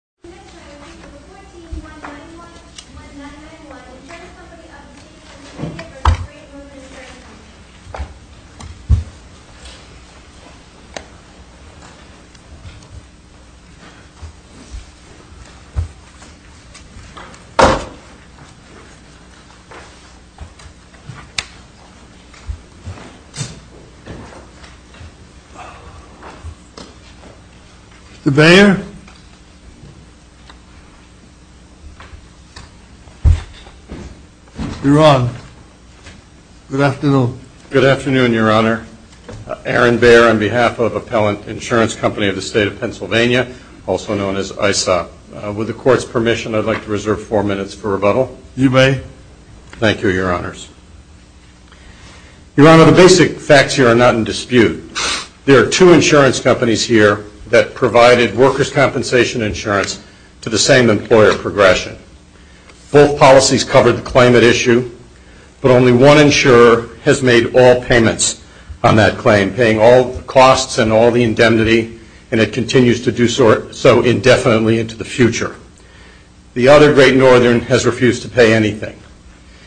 The next item is bill 14-191-1991, Insurance Company of the State v. Great Northern Insurance Company. Mr. Bayer? Your Honor, the basic facts here are not in dispute. There are two insurance companies here that provided workers' companies with insurance. Both policies covered the climate issue, but only one insurer has made all payments on that claim, paying all costs and all the indemnity, and it continues to do so indefinitely into the future. The other, Great Northern, has refused to pay anything.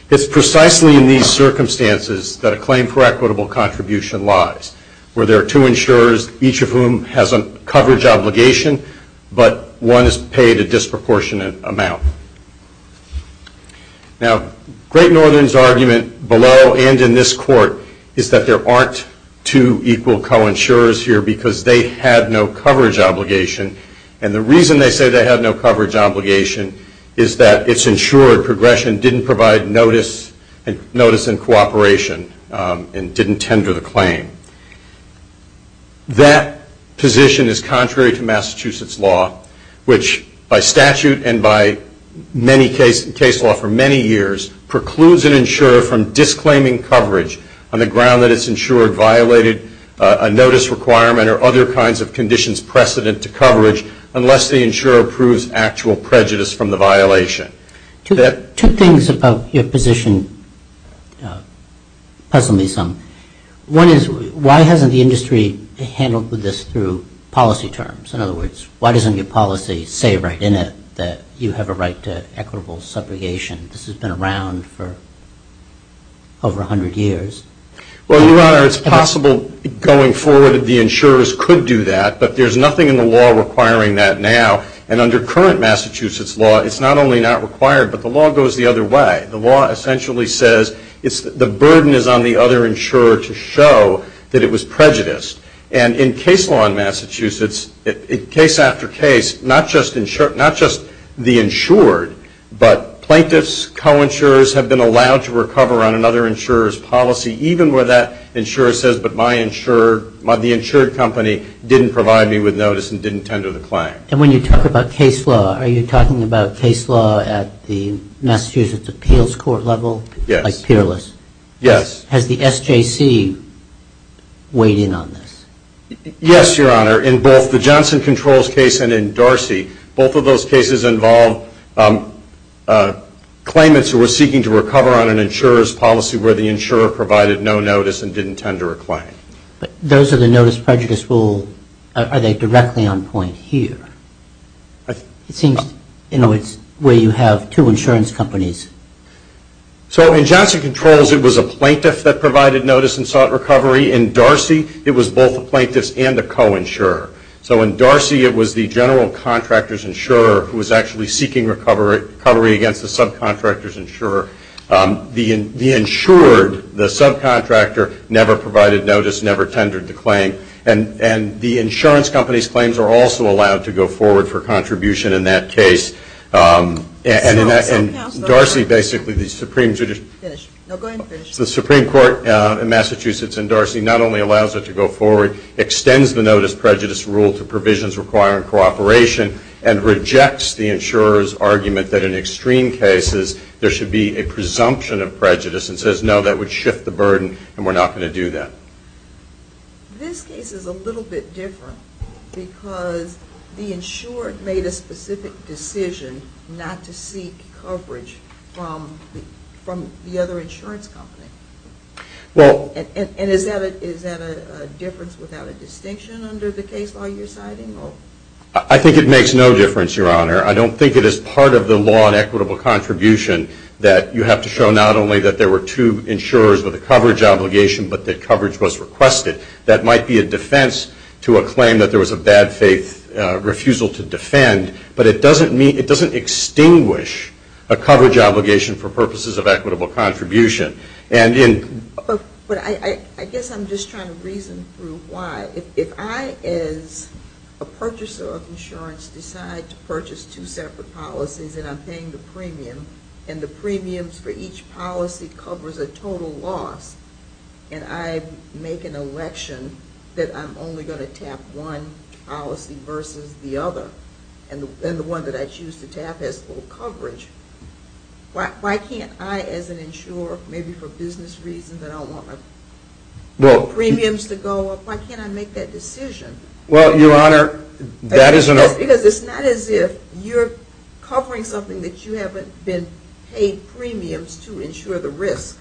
It's precisely in these circumstances that a claim for equitable contribution lies, where there are two insurers, each of whom has a coverage obligation, but one is paid a disproportionate amount. Now, Great Northern's argument below and in this Court is that there aren't two equal co-insurers here because they had no coverage obligation, and the reason they say they have no coverage obligation is that it's insured, progression didn't provide notice and cooperation and didn't tender the claim. That position is contrary to Massachusetts law, which by statute and by many case law for many years, precludes an insurer from disclaiming coverage on the ground that it's insured, a notice requirement or other kinds of conditions precedent to coverage unless the insurer proves actual prejudice from the violation. Two things about your position puzzle me some. One is, why hasn't the industry handled this through policy terms? In other words, why doesn't your policy say right in it that you have a right to equitable subrogation? This has been around for over 100 years. Well, Your Honor, it's possible going forward that the insurers could do that, but there's nothing in the law requiring that now. And under current Massachusetts law, it's not only not required, but the law goes the other way. The law essentially says the burden is on the other insurer to show that it was prejudiced. And in case law in Massachusetts, case after case, not just the insured, but plaintiffs, co-insurers have been allowed to recover on another insurer's policy even where that insurer says, but the insured company didn't provide me with notice and didn't tender the claim. And when you talk about case law, are you talking about case law at the Massachusetts appeals court level? Yes. Like peerless? Yes. Has the SJC weighed in on this? Yes, Your Honor. In both the Johnson Controls case and in Darcy, both of those cases involve claimants who were seeking to recover on an insurer's policy where the insurer provided no notice and didn't tender a claim. But those are the notice prejudice rule. Are they directly on point here? It seems in a way you have two insurance companies. So in Johnson Controls, it was a plaintiff that provided notice and sought recovery. In Darcy, it was both the plaintiffs and the co-insurer. So in Darcy, it was the general contractor's insurer who was actually seeking recovery against the subcontractor's insurer. The insured, the subcontractor, never provided notice, never tendered the claim. And the insurance company's claims are also allowed to go forward for contribution in that case. And Darcy basically, the Supreme Court in Massachusetts and Darcy not only allows it to go forward, extends the notice prejudice rule to provisions requiring cooperation and rejects the insurer's argument that in extreme cases there should be a presumption of prejudice and says no, that would shift the burden and we're not going to do that. This case is a little bit different because the insured made a specific decision not to seek coverage from the other insurance company. And is that a difference without a distinction under the case law you're citing? I think it makes no difference, Your Honor. I don't think it is part of the law in equitable contribution that you have to show not only that there were two insurers with a coverage obligation but that coverage was requested. That might be a defense to a claim that there was a bad faith refusal to defend, but it doesn't extinguish a coverage obligation for purposes of equitable contribution. But I guess I'm just trying to reason through why. If I as a purchaser of insurance decide to purchase two separate policies and I'm paying the premium and the premiums for each policy covers a total loss and I make an election that I'm only going to tap one policy versus the other and the one that I choose to tap has full coverage, why can't I as an insurer, maybe for business reasons, I don't want my premiums to go up, why can't I make that decision? Well, Your Honor, that is an... Because it's not as if you're covering something that you haven't been paid premiums to insure the risk.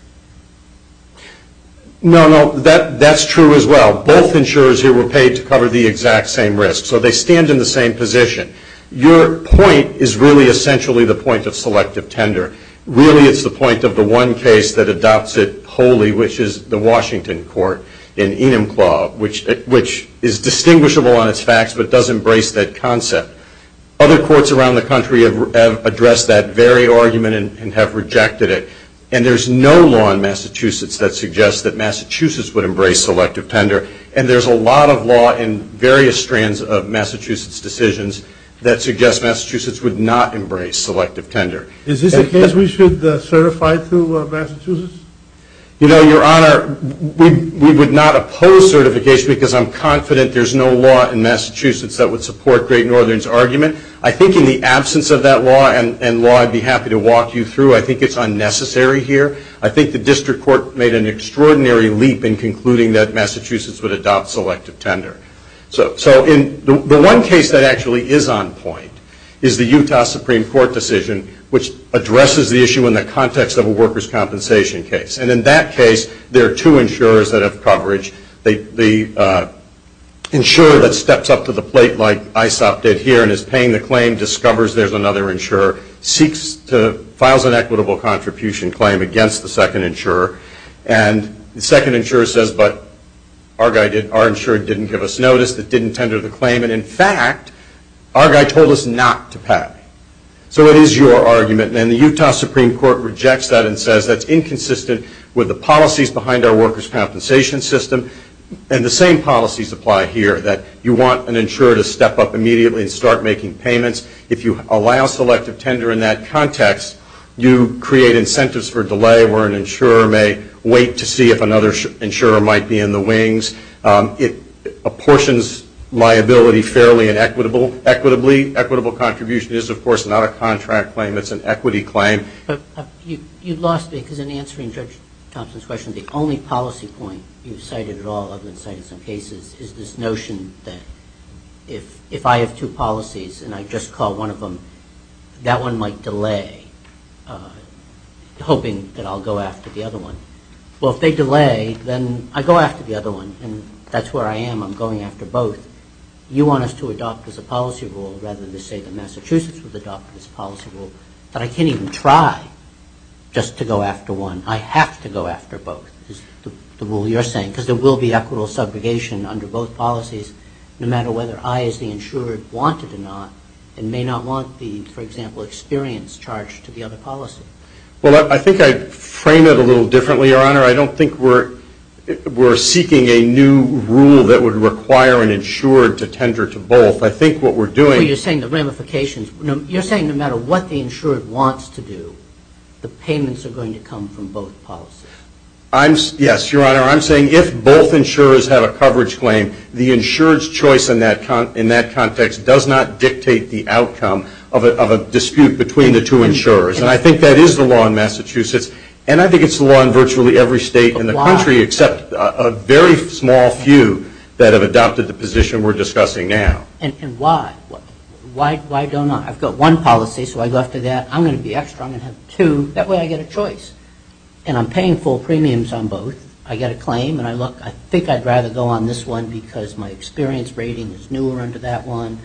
No, no, that's true as well. Both insurers here were paid to cover the exact same risk. So they stand in the same position. Your point is really essentially the point of selective tender. Really it's the point of the one case that adopts it wholly, which is the Washington court in Enumclaw, which is distinguishable on its facts, but does embrace that concept. Other courts around the country have addressed that very argument and have rejected it. And there's no law in Massachusetts that suggests that Massachusetts would embrace selective tender. And there's a lot of law in various strands of Massachusetts decisions that suggests Massachusetts would not embrace selective tender. Is this a case we should certify to Massachusetts? You know, Your Honor, we would not oppose certification because I'm confident there's no law in Massachusetts that would support Great Northern's argument. I think in the absence of that law, and law I'd be happy to walk you through, I think it's unnecessary here. I think the district court made an extraordinary leap in concluding that Massachusetts would adopt selective tender. So the one case that actually is on point is the Utah Supreme Court decision, which addresses the issue in the context of a workers' compensation case. And in that case, there are two insurers that have coverage. The insurer that steps up to the plate like ISOP did here and is paying the claim, discovers there's another insurer, seeks to file an equitable contribution claim against the second insurer. And the second insurer says, but our insurer didn't give us notice, that didn't tender the claim. And in fact, our guy told us not to pay. So it is your argument. And the Utah Supreme Court rejects that and says that's inconsistent with the policies behind our workers' compensation system. And the same policies apply here, that you want an insurer to step up immediately and start making payments. If you allow selective tender in that context, you create incentives for delay where an insurer may wait to see if another insurer might be in the wings. It apportions liability fairly and equitably. Equitable contribution is, of course, not a contract claim. It's an equity claim. You lost me because in answering Judge Thompson's question, the only policy point you cited at all other than citing some cases is this notion that if I have two policies and I just call one of them, that one might delay, hoping that I'll go after the other one. Well, if they delay, then I go after the other one. And that's where I am. I'm going after both. You want us to adopt as a policy rule rather than to say that Massachusetts would adopt this policy rule. But I can't even try just to go after one. I have to go after both is the rule you're saying because there will be equitable segregation under both policies no matter whether I as the insurer want it or not and may not want the, for example, experience charged to the other policy. Well, I think I'd frame it a little differently, Your Honor. I don't think we're seeking a new rule that would require an insurer to tender to both. I think what we're doing ñ Well, you're saying the ramifications. You're saying no matter what the insurer wants to do, the payments are going to come from both policies. Yes, Your Honor. I'm saying if both insurers have a coverage claim, the insurer's choice in that context does not dictate the outcome of a dispute between the two insurers. And I think that is the law in Massachusetts. And I think it's the law in virtually every state in the country except a very small few that have adopted the position we're discussing now. And why? Why don't I? I've got one policy, so I go after that. I'm going to be extra. I'm going to have two. That way I get a choice. And I'm paying full premiums on both. I get a claim, and I look. I think I'd rather go on this one because my experience rating is newer under that one.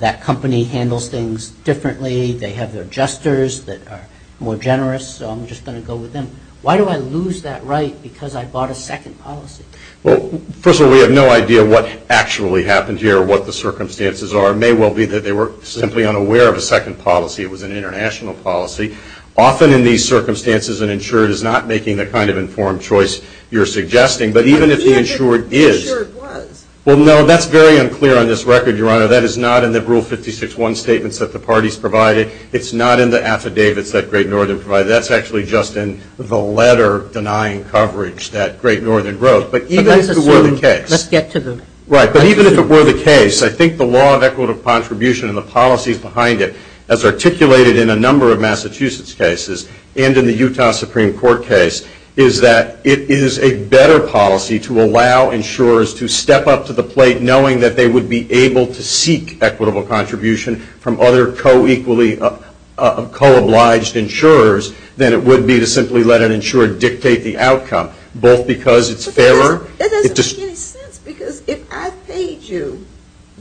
That company handles things differently. They have their adjusters that are more generous, so I'm just going to go with them. Why do I lose that right because I bought a second policy? Well, first of all, we have no idea what actually happened here or what the circumstances are. It may well be that they were simply unaware of a second policy. It was an international policy. Often in these circumstances, an insured is not making the kind of informed choice you're suggesting. But even if the insured is. Well, no, that's very unclear on this record, Your Honor. That is not in the Rule 56-1 statements that the parties provided. It's not in the affidavits that Great Northern provided. That's actually just in the letter denying coverage that Great Northern wrote. But even if it were the case. Right, but even if it were the case, I think the law of equitable contribution and the policies behind it, as articulated in a number of Massachusetts cases and in the Utah Supreme Court case, is that it is a better policy to allow insurers to step up to the plate knowing that they would be able to seek equitable contribution from other co-equally, co-obliged insurers than it would be to simply let an insurer dictate the outcome, both because it's fairer. That doesn't make any sense, because if I paid you,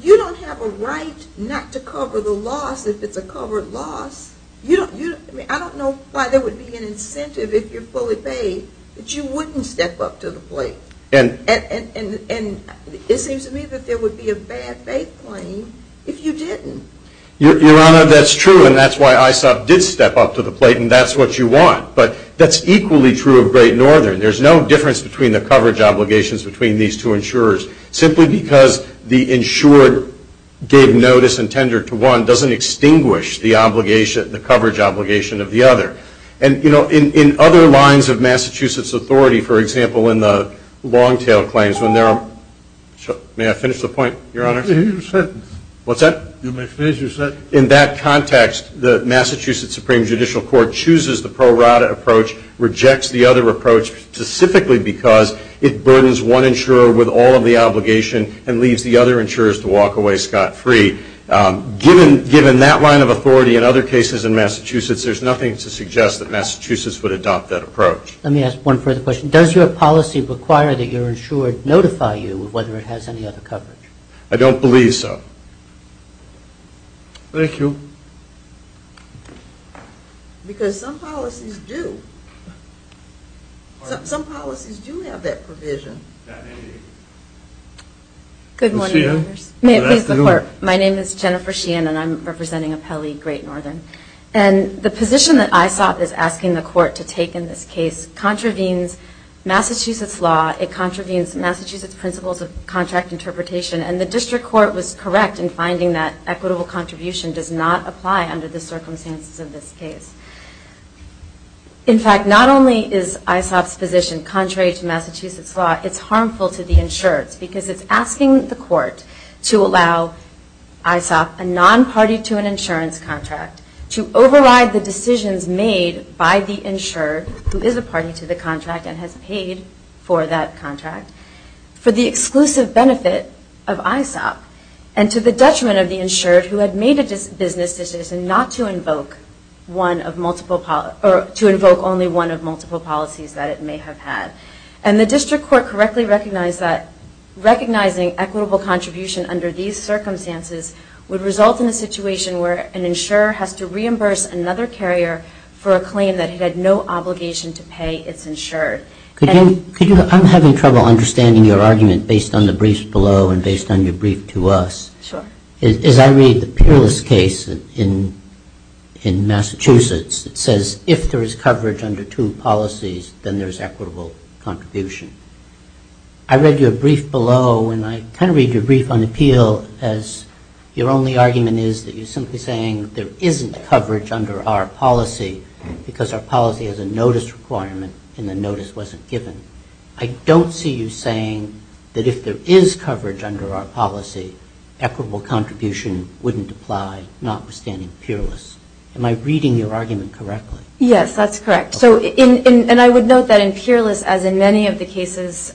you don't have a right not to cover the loss if it's a covered loss. I don't know why there would be an incentive if you're fully paid that you wouldn't step up to the plate. And it seems to me that there would be a bad faith claim if you didn't. Your Honor, that's true, and that's why ISOP did step up to the plate, and that's what you want. But that's equally true of Great Northern. There's no difference between the coverage obligations between these two insurers, simply because the insured gave notice and tendered to one doesn't extinguish the obligation, the coverage obligation of the other. And, you know, in other lines of Massachusetts authority, for example, in the long-tail claims, when there are – may I finish the point, Your Honor? You may finish your sentence. What's that? You may finish your sentence. In that context, the Massachusetts Supreme Judicial Court chooses the pro rata approach, rejects the other approach specifically because it burdens one insurer with all of the obligation and leaves the other insurers to walk away scot-free. Given that line of authority in other cases in Massachusetts, there's nothing to suggest that Massachusetts would adopt that approach. Let me ask one further question. Does your policy require that your insurer notify you of whether it has any other coverage? I don't believe so. Thank you. Because some policies do. Some policies do have that provision. Good morning, members. Good afternoon. My name is Jennifer Sheehan, and I'm representing Apelli Great Northern. And the position that ISOP is asking the court to take in this case contravenes Massachusetts law, it contravenes Massachusetts principles of contract interpretation, and the district court was correct in finding that equitable contribution does not apply under the circumstances of this case. In fact, not only is ISOP's position contrary to Massachusetts law, it's harmful to the insurers because it's asking the court to allow ISOP, a non-party to an insurance contract, to override the decisions made by the insurer who is a party to the contract and has paid for that contract for the exclusive benefit of ISOP and to the detriment of the insured who had made a business decision not to invoke only one of multiple policies that it may have had. And the district court correctly recognized that recognizing equitable contribution under these circumstances would result in a situation where an insurer has to reimburse another carrier for a claim that it had no obligation to pay its insured. I'm having trouble understanding your argument based on the briefs below and based on your brief to us. Sure. As I read the peerless case in Massachusetts, it says if there is coverage under two policies, then there is equitable contribution. I read your brief below and I kind of read your brief on appeal as your only argument is that you're simply saying there isn't coverage under our policy because our policy has a notice requirement and the notice wasn't given. I don't see you saying that if there is coverage under our policy, equitable contribution wouldn't apply, notwithstanding peerless. Am I reading your argument correctly? Yes, that's correct. And I would note that in peerless, as in many of the cases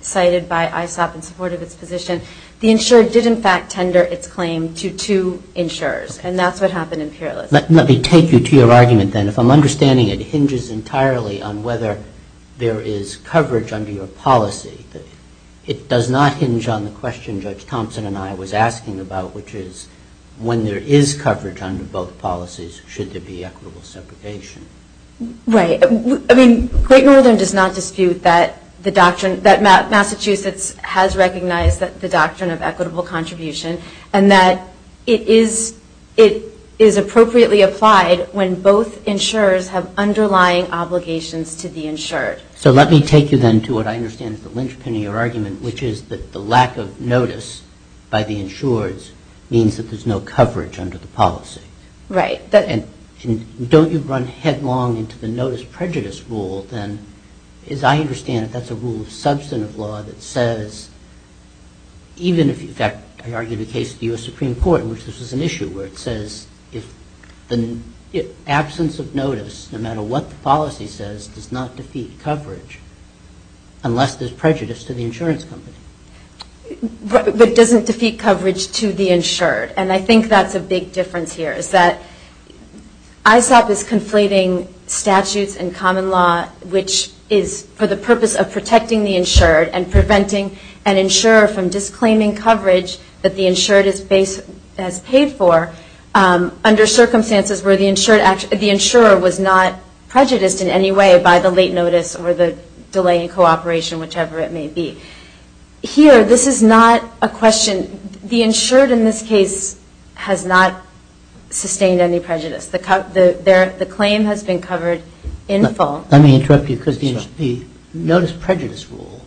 cited by ISOP in support of its position, the insurer did in fact tender its claim to two insurers. And that's what happened in peerless. Let me take you to your argument then. If I'm understanding it hinges entirely on whether there is coverage under your policy. It does not hinge on the question Judge Thompson and I was asking about, which is when there is coverage under both policies, should there be equitable separation? Right. I mean, Great Northern does not dispute that the doctrine, that Massachusetts has recognized the doctrine of equitable contribution and that it is appropriately applied when both insurers have underlying obligations to the insured. So let me take you then to what I understand is the linchpin of your argument, which is that the lack of notice by the insured means that there's no coverage under the policy. Right. And don't you run headlong into the notice prejudice rule then? As I understand it, that's a rule of substantive law that says, even if in fact I argue the case of the U.S. Supreme Court in which this was an issue, where it says the absence of notice, no matter what the policy says, does not defeat coverage unless there's prejudice to the insurance company. But it doesn't defeat coverage to the insured. And I think that's a big difference here, is that ISOP is conflating statutes and common law, which is for the purpose of protecting the insured and preventing an insurer from disclaiming coverage that the insured has paid for, under circumstances where the insurer was not prejudiced in any way by the late notice or the delay in cooperation, whichever it may be. Here, this is not a question. The insured in this case has not sustained any prejudice. The claim has been covered in full. Let me interrupt you, because the notice prejudice rule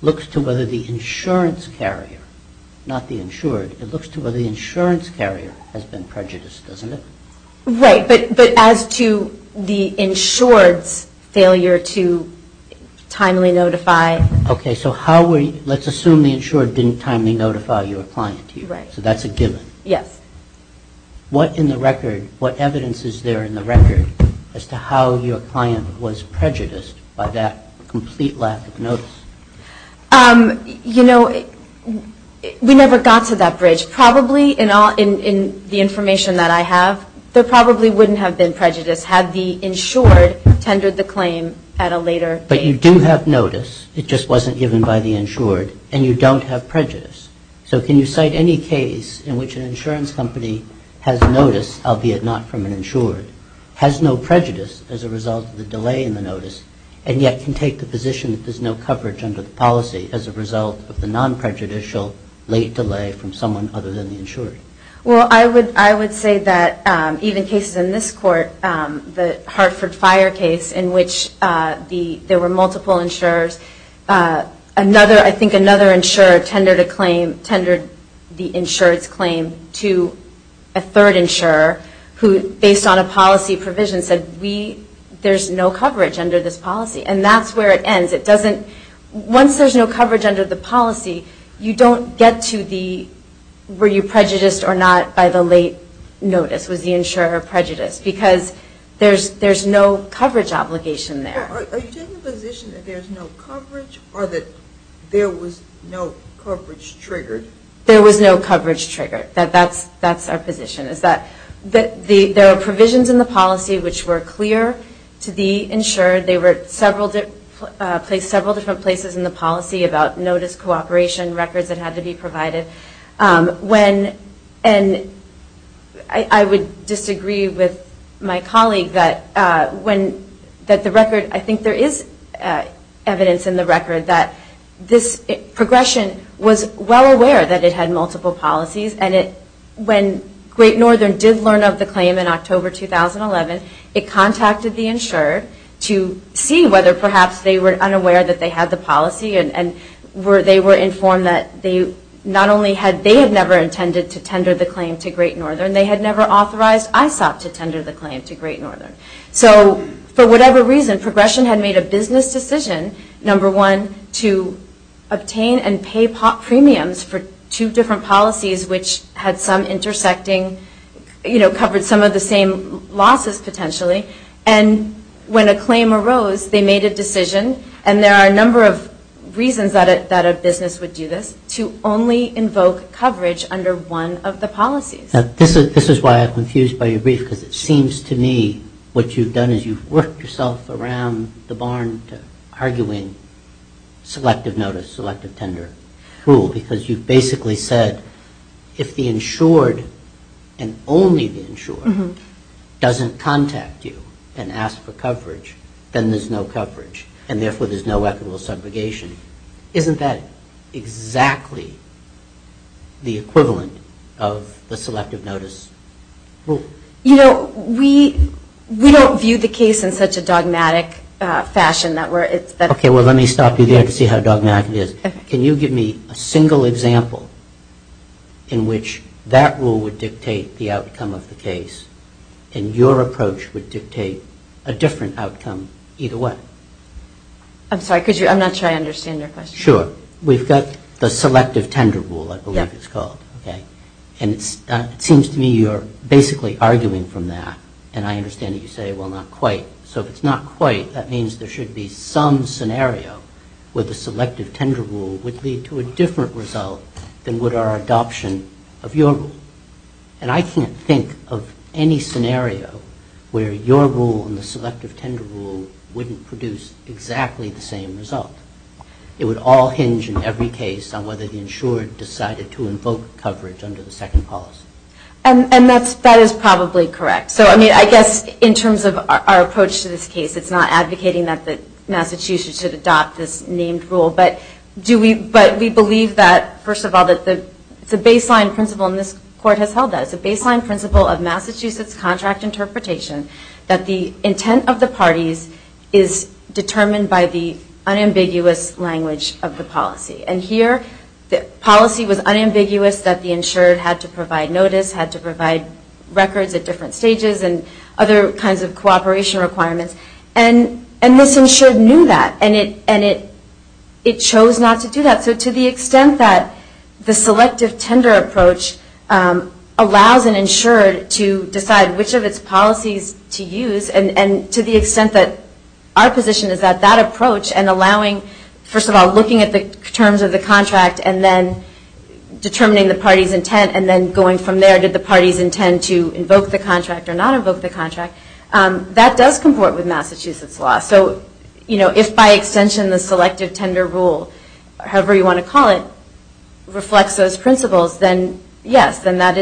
looks to whether the insurance carrier, not the insured, it looks to whether the insurance carrier has been prejudiced, doesn't it? Right. But as to the insured's failure to timely notify. Okay, so let's assume the insured didn't timely notify your client. So that's a given. Yes. What evidence is there in the record as to how your client was prejudiced by that complete lack of notice? You know, we never got to that bridge. Probably in the information that I have, there probably wouldn't have been prejudice had the insured tendered the claim at a later date. But you do have notice. It just wasn't given by the insured. And you don't have prejudice. So can you cite any case in which an insurance company has notice, albeit not from an insured, has no prejudice as a result of the delay in the notice, and yet can take the position that there's no coverage under the policy as a result of the non-prejudicial late delay from someone other than the insured? Well, I would say that even cases in this court, the Hartford Fire case in which there were multiple insurers, I think another insurer tendered the insured's claim to a third insurer who, based on a policy provision, said there's no coverage under this policy. And that's where it ends. Once there's no coverage under the policy, you don't get to the were you prejudiced or not by the late notice. The late notice was the insurer prejudiced because there's no coverage obligation there. Are you taking the position that there's no coverage or that there was no coverage triggered? There was no coverage triggered. That's our position is that there are provisions in the policy which were clear to the insured. They were several different places in the policy about notice, cooperation, records that had to be provided. And I would disagree with my colleague that the record, I think there is evidence in the record that this progression was well aware that it had multiple policies. And when Great Northern did learn of the claim in October 2011, it contacted the insured to see whether perhaps they were unaware that they had the policy and they were informed that they had never intended to tender the claim to Great Northern. They had never authorized ISOP to tender the claim to Great Northern. So for whatever reason, progression had made a business decision, number one, to obtain and pay premiums for two different policies which had some intersecting, covered some of the same losses potentially. And when a claim arose, they made a decision. And there are a number of reasons that a business would do this, to only invoke coverage under one of the policies. This is why I'm confused by your brief because it seems to me what you've done is you've worked yourself around the barn to arguing selective notice, selective tender rule because you basically said if the insured and only the insured doesn't contact you and ask for coverage, then there's no coverage. And therefore, there's no equitable subrogation. Isn't that exactly the equivalent of the selective notice rule? You know, we don't view the case in such a dogmatic fashion. Okay, well, let me stop you there to see how dogmatic it is. Can you give me a single example in which that rule would dictate the outcome of the case and your approach would dictate a different outcome either way? I'm sorry, I'm not sure I understand your question. Sure. We've got the selective tender rule, I believe it's called. And it seems to me you're basically arguing from that. And I understand that you say, well, not quite. So if it's not quite, that means there should be some scenario where the selective tender rule would lead to a different result than would our adoption of your rule. And I can't think of any scenario where your rule and the selective tender rule wouldn't produce exactly the same result. It would all hinge in every case on whether the insured decided to invoke coverage under the second policy. And that is probably correct. So, I mean, I guess in terms of our approach to this case, it's not advocating that Massachusetts should adopt this named rule. But we believe that, first of all, it's a baseline principle, and this court has held that, it's a baseline principle of Massachusetts contract interpretation that the intent of the parties is determined by the unambiguous language of the policy. And here the policy was unambiguous that the insured had to provide notice, had to provide records at different stages and other kinds of cooperation requirements. And this insured knew that. And it chose not to do that. So to the extent that the selective tender approach allows an insured to decide which of its policies to use, and to the extent that our position is that that approach and allowing, first of all, looking at the terms of the contract and then determining the party's intent and then going from there to the party's intent to invoke the contract or not invoke the contract, that does comport with Massachusetts law. So, you know, if by extension the selective tender rule, however you want to call it, reflects those principles, then yes, then that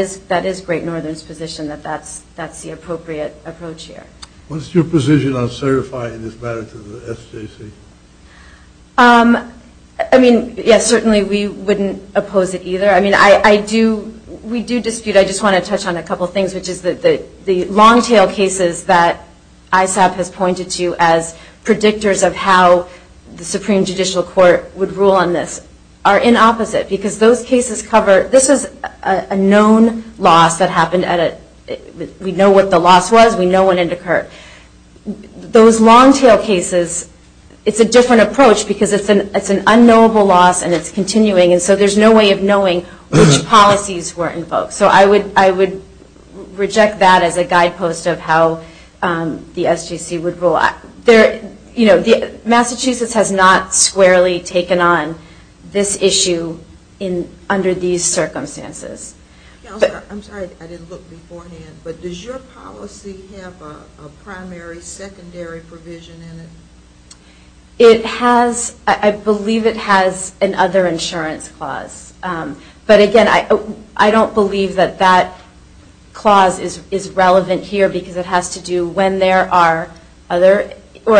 is Great Northern's position that that's the appropriate approach here. What's your position on certifying this matter to the SJC? I mean, yes, certainly we wouldn't oppose it either. I mean, I do, we do dispute. I just want to touch on a couple of things, which is that the long-tail cases that ISAB has pointed to as predictors of how the Supreme Judicial Court would rule on this are in opposite because those cases cover, this is a known loss that happened at a, we know what the loss was, we know when it occurred. Those long-tail cases, it's a different approach because it's an unknowable loss and it's continuing and so there's no way of knowing which policies were invoked. So I would reject that as a guidepost of how the SJC would rule. You know, Massachusetts has not squarely taken on this issue under these circumstances. I'm sorry, I didn't look beforehand, but does your policy have a primary, secondary provision in it? It has, I believe it has an other insurance clause. But again, I don't believe that that clause is relevant here because it has to do when there are other, or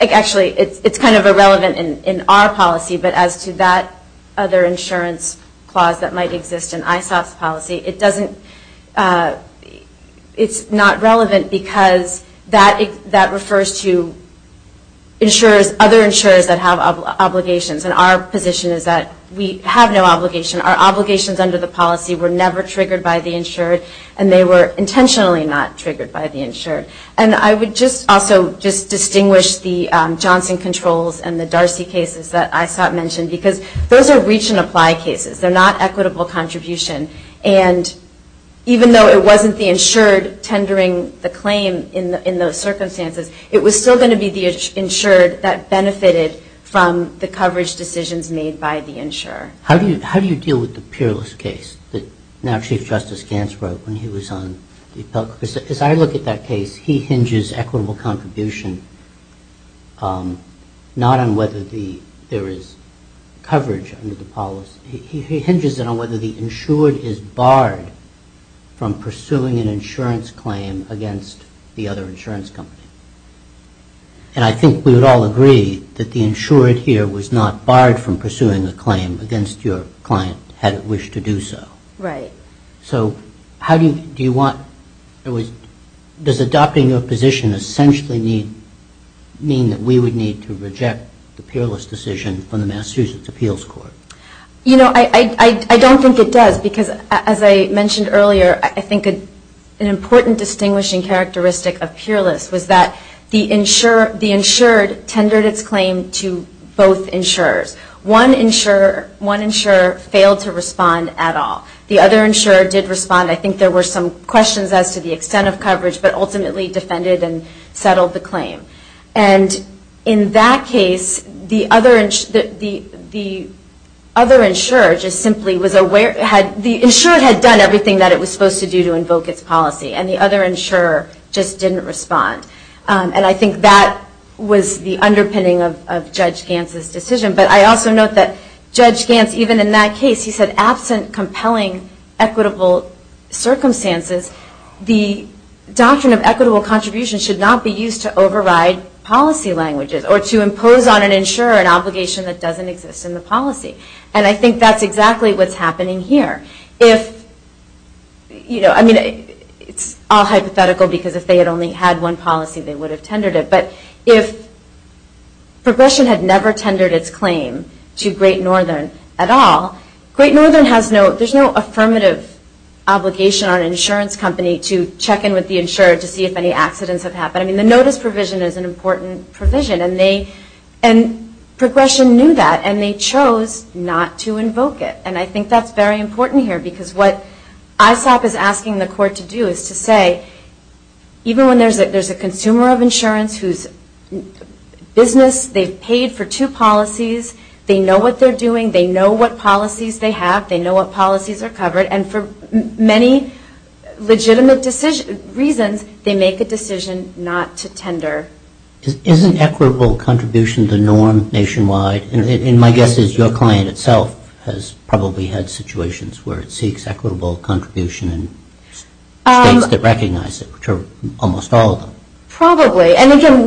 actually it's kind of irrelevant in our policy, but as to that other insurance clause that might exist in ISOP's policy, it doesn't, it's not relevant because that refers to insurers, other insurers that have obligations and our position is that we have no obligation. Our obligations under the policy were never triggered by the insured and they were intentionally not triggered by the insured. And I would just also just distinguish the Johnson controls and the Darcy cases that ISOP mentioned because those are reach and apply cases, they're not equitable contribution and even though it wasn't the insured tendering the claim in those circumstances, it was still going to be the insured that benefited from the coverage decisions made by the insurer. How do you deal with the Peerless case that now Chief Justice Gants wrote when he was on the appellate court? As I look at that case, he hinges equitable contribution not on whether there is coverage under the policy, he hinges on whether the insured is barred from pursuing an insurance claim against the other insurance company. And I think we would all agree that the insured here was not barred from pursuing a claim against your client had it wished to do so. Right. So how do you, do you want, does adopting your position essentially mean that we would need to reject the Peerless decision from the Massachusetts Appeals Court? You know, I don't think it does because as I mentioned earlier, I think an important distinguishing characteristic of Peerless was that the insured tendered its claim to both insurers. One insurer failed to respond at all. The other insurer did respond. I think there were some questions as to the extent of coverage but ultimately defended and settled the claim. And in that case, the other insurer just simply was aware, the insured had done everything that it was supposed to do to invoke its policy and the other insurer just didn't respond. And I think that was the underpinning of Judge Gantz's decision. But I also note that Judge Gantz, even in that case, he said absent compelling equitable circumstances, the doctrine of equitable contributions should not be used to override policy languages or to impose on an insurer an obligation that doesn't exist in the policy. And I think that's exactly what's happening here. I mean, it's all hypothetical because if they had only had one policy, they would have tendered it. But if Progression had never tendered its claim to Great Northern at all, Great Northern has no, there's no affirmative obligation on an insurance company to check in with the insurer to see if any accidents have happened. I mean, the notice provision is an important provision and Progression knew that and they chose not to invoke it. And I think that's very important here because what ISOP is asking the court to do is to say even when there's a consumer of insurance whose business, they've paid for two policies, they know what they're doing, they know what policies they have, they know what policies are covered, and for many legitimate reasons, they make a decision not to tender. Isn't equitable contribution the norm nationwide? And my guess is your client itself has probably had situations where it seeks equitable contribution in states that recognize it, which are almost all of them. Probably. And again,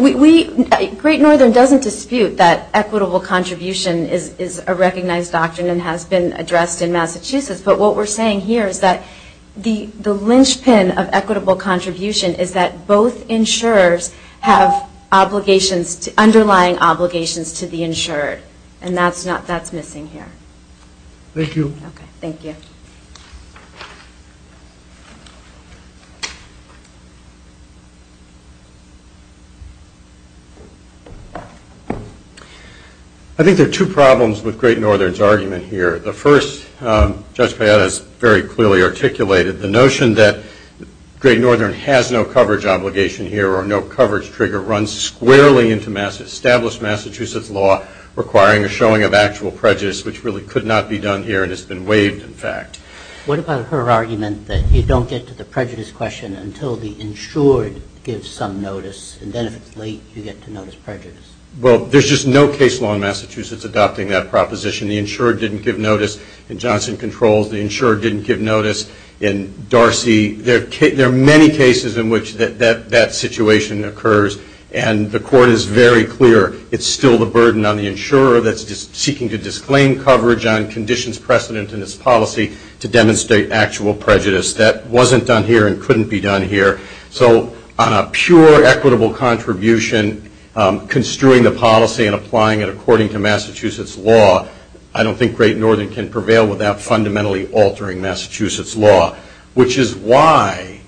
Great Northern doesn't dispute that equitable contribution is a recognized doctrine and has been addressed in Massachusetts. But what we're saying here is that the linchpin of equitable contribution is that both insurers have obligations, underlying obligations to the insured. And that's missing here. Thank you. Okay, thank you. I think there are two problems with Great Northern's argument here. The first, Judge Payette has very clearly articulated the notion that Great Northern has no coverage obligation here or no coverage trigger. It runs squarely into established Massachusetts law requiring a showing of actual prejudice, which really could not be done here and has been waived, in fact. What about her argument that you don't get to the prejudice question until the insured gives some notice, and then if it's late, you get to notice prejudice? Well, there's just no case law in Massachusetts adopting that proposition. The insured didn't give notice in Johnson Controls. The insured didn't give notice in Darcy. There are many cases in which that situation occurs, and the court is very clear it's still the burden on the insurer that's seeking to disclaim coverage on conditions precedent in its policy to demonstrate actual prejudice. That wasn't done here and couldn't be done here. So on a pure equitable contribution, construing the policy and applying it according to Massachusetts law, I don't think Great Northern can prevail without fundamentally altering Massachusetts law, which is why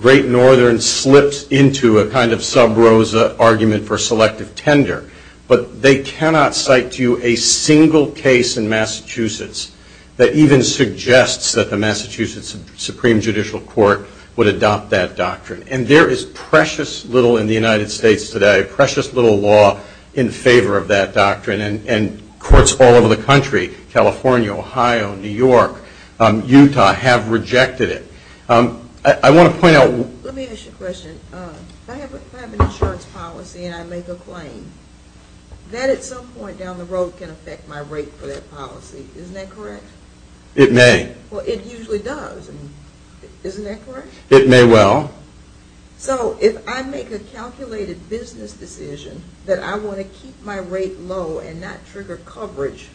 Great Northern slips into a kind of sub rosa argument for selective tender. But they cannot cite to you a single case in Massachusetts that even suggests that the Massachusetts Supreme Judicial Court would adopt that doctrine. And there is precious little in the United States today, precious little law in favor of that doctrine, and courts all over the country, California, Ohio, New York, Utah, have rejected it. I want to point out... Let me ask you a question. If I have an insurance policy and I make a claim, that at some point down the road can affect my rate for that policy. Isn't that correct? It may. Well, it usually does. Isn't that correct? It may well. So if I make a calculated business decision that I want to keep my rate low and not trigger coverage,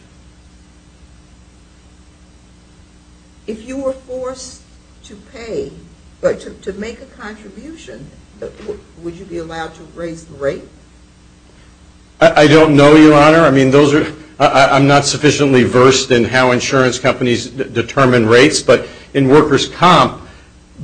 if you were forced to pay, to make a contribution, would you be allowed to raise the rate? I don't know, Your Honor. I mean, those are... I'm not sufficiently versed in how insurance companies determine rates. But in workers' comp,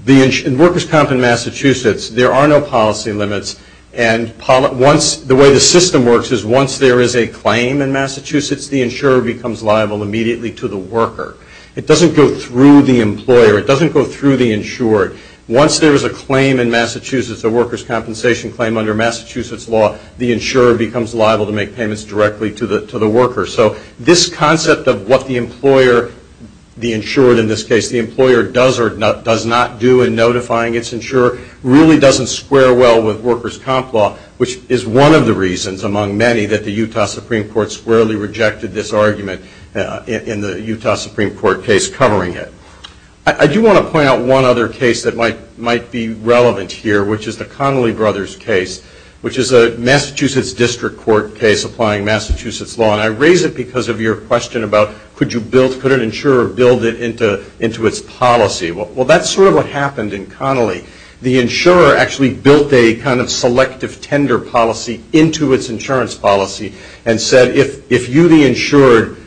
in workers' comp in Massachusetts, there are no policy limits. And the way the system works is once there is a claim in Massachusetts, the insurer becomes liable immediately to the worker. It doesn't go through the employer. It doesn't go through the insured. Once there is a claim in Massachusetts, a workers' compensation claim under Massachusetts law, the insurer becomes liable to make payments directly to the worker. So this concept of what the employer, the insured in this case, the employer does or does not do in notifying its insurer, really doesn't square well with workers' comp law, which is one of the reasons, among many, that the Utah Supreme Court squarely rejected this argument in the Utah Supreme Court case covering it. I do want to point out one other case that might be relevant here, which is the Connolly Brothers case, which is a Massachusetts District Court case applying Massachusetts law. And I raise it because of your question about could an insurer build it into its policy? Well, that's sort of what happened in Connolly. The insurer actually built a kind of selective tender policy into its insurance policy and said, if you, the insured,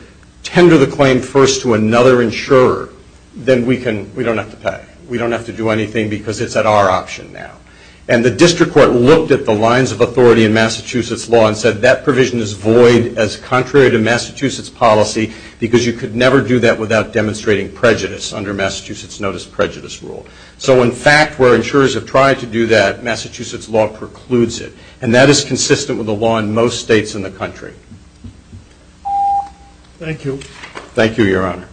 tender the claim first to another insurer, then we don't have to pay. We don't have to do anything because it's at our option now. And the District Court looked at the lines of authority in Massachusetts law and said, that provision is void as contrary to Massachusetts policy because you could never do that without demonstrating prejudice under Massachusetts Notice of Prejudice rule. So in fact, where insurers have tried to do that, Massachusetts law precludes it. And that is consistent with the law in most states in the country. Thank you. Thank you, Your Honor.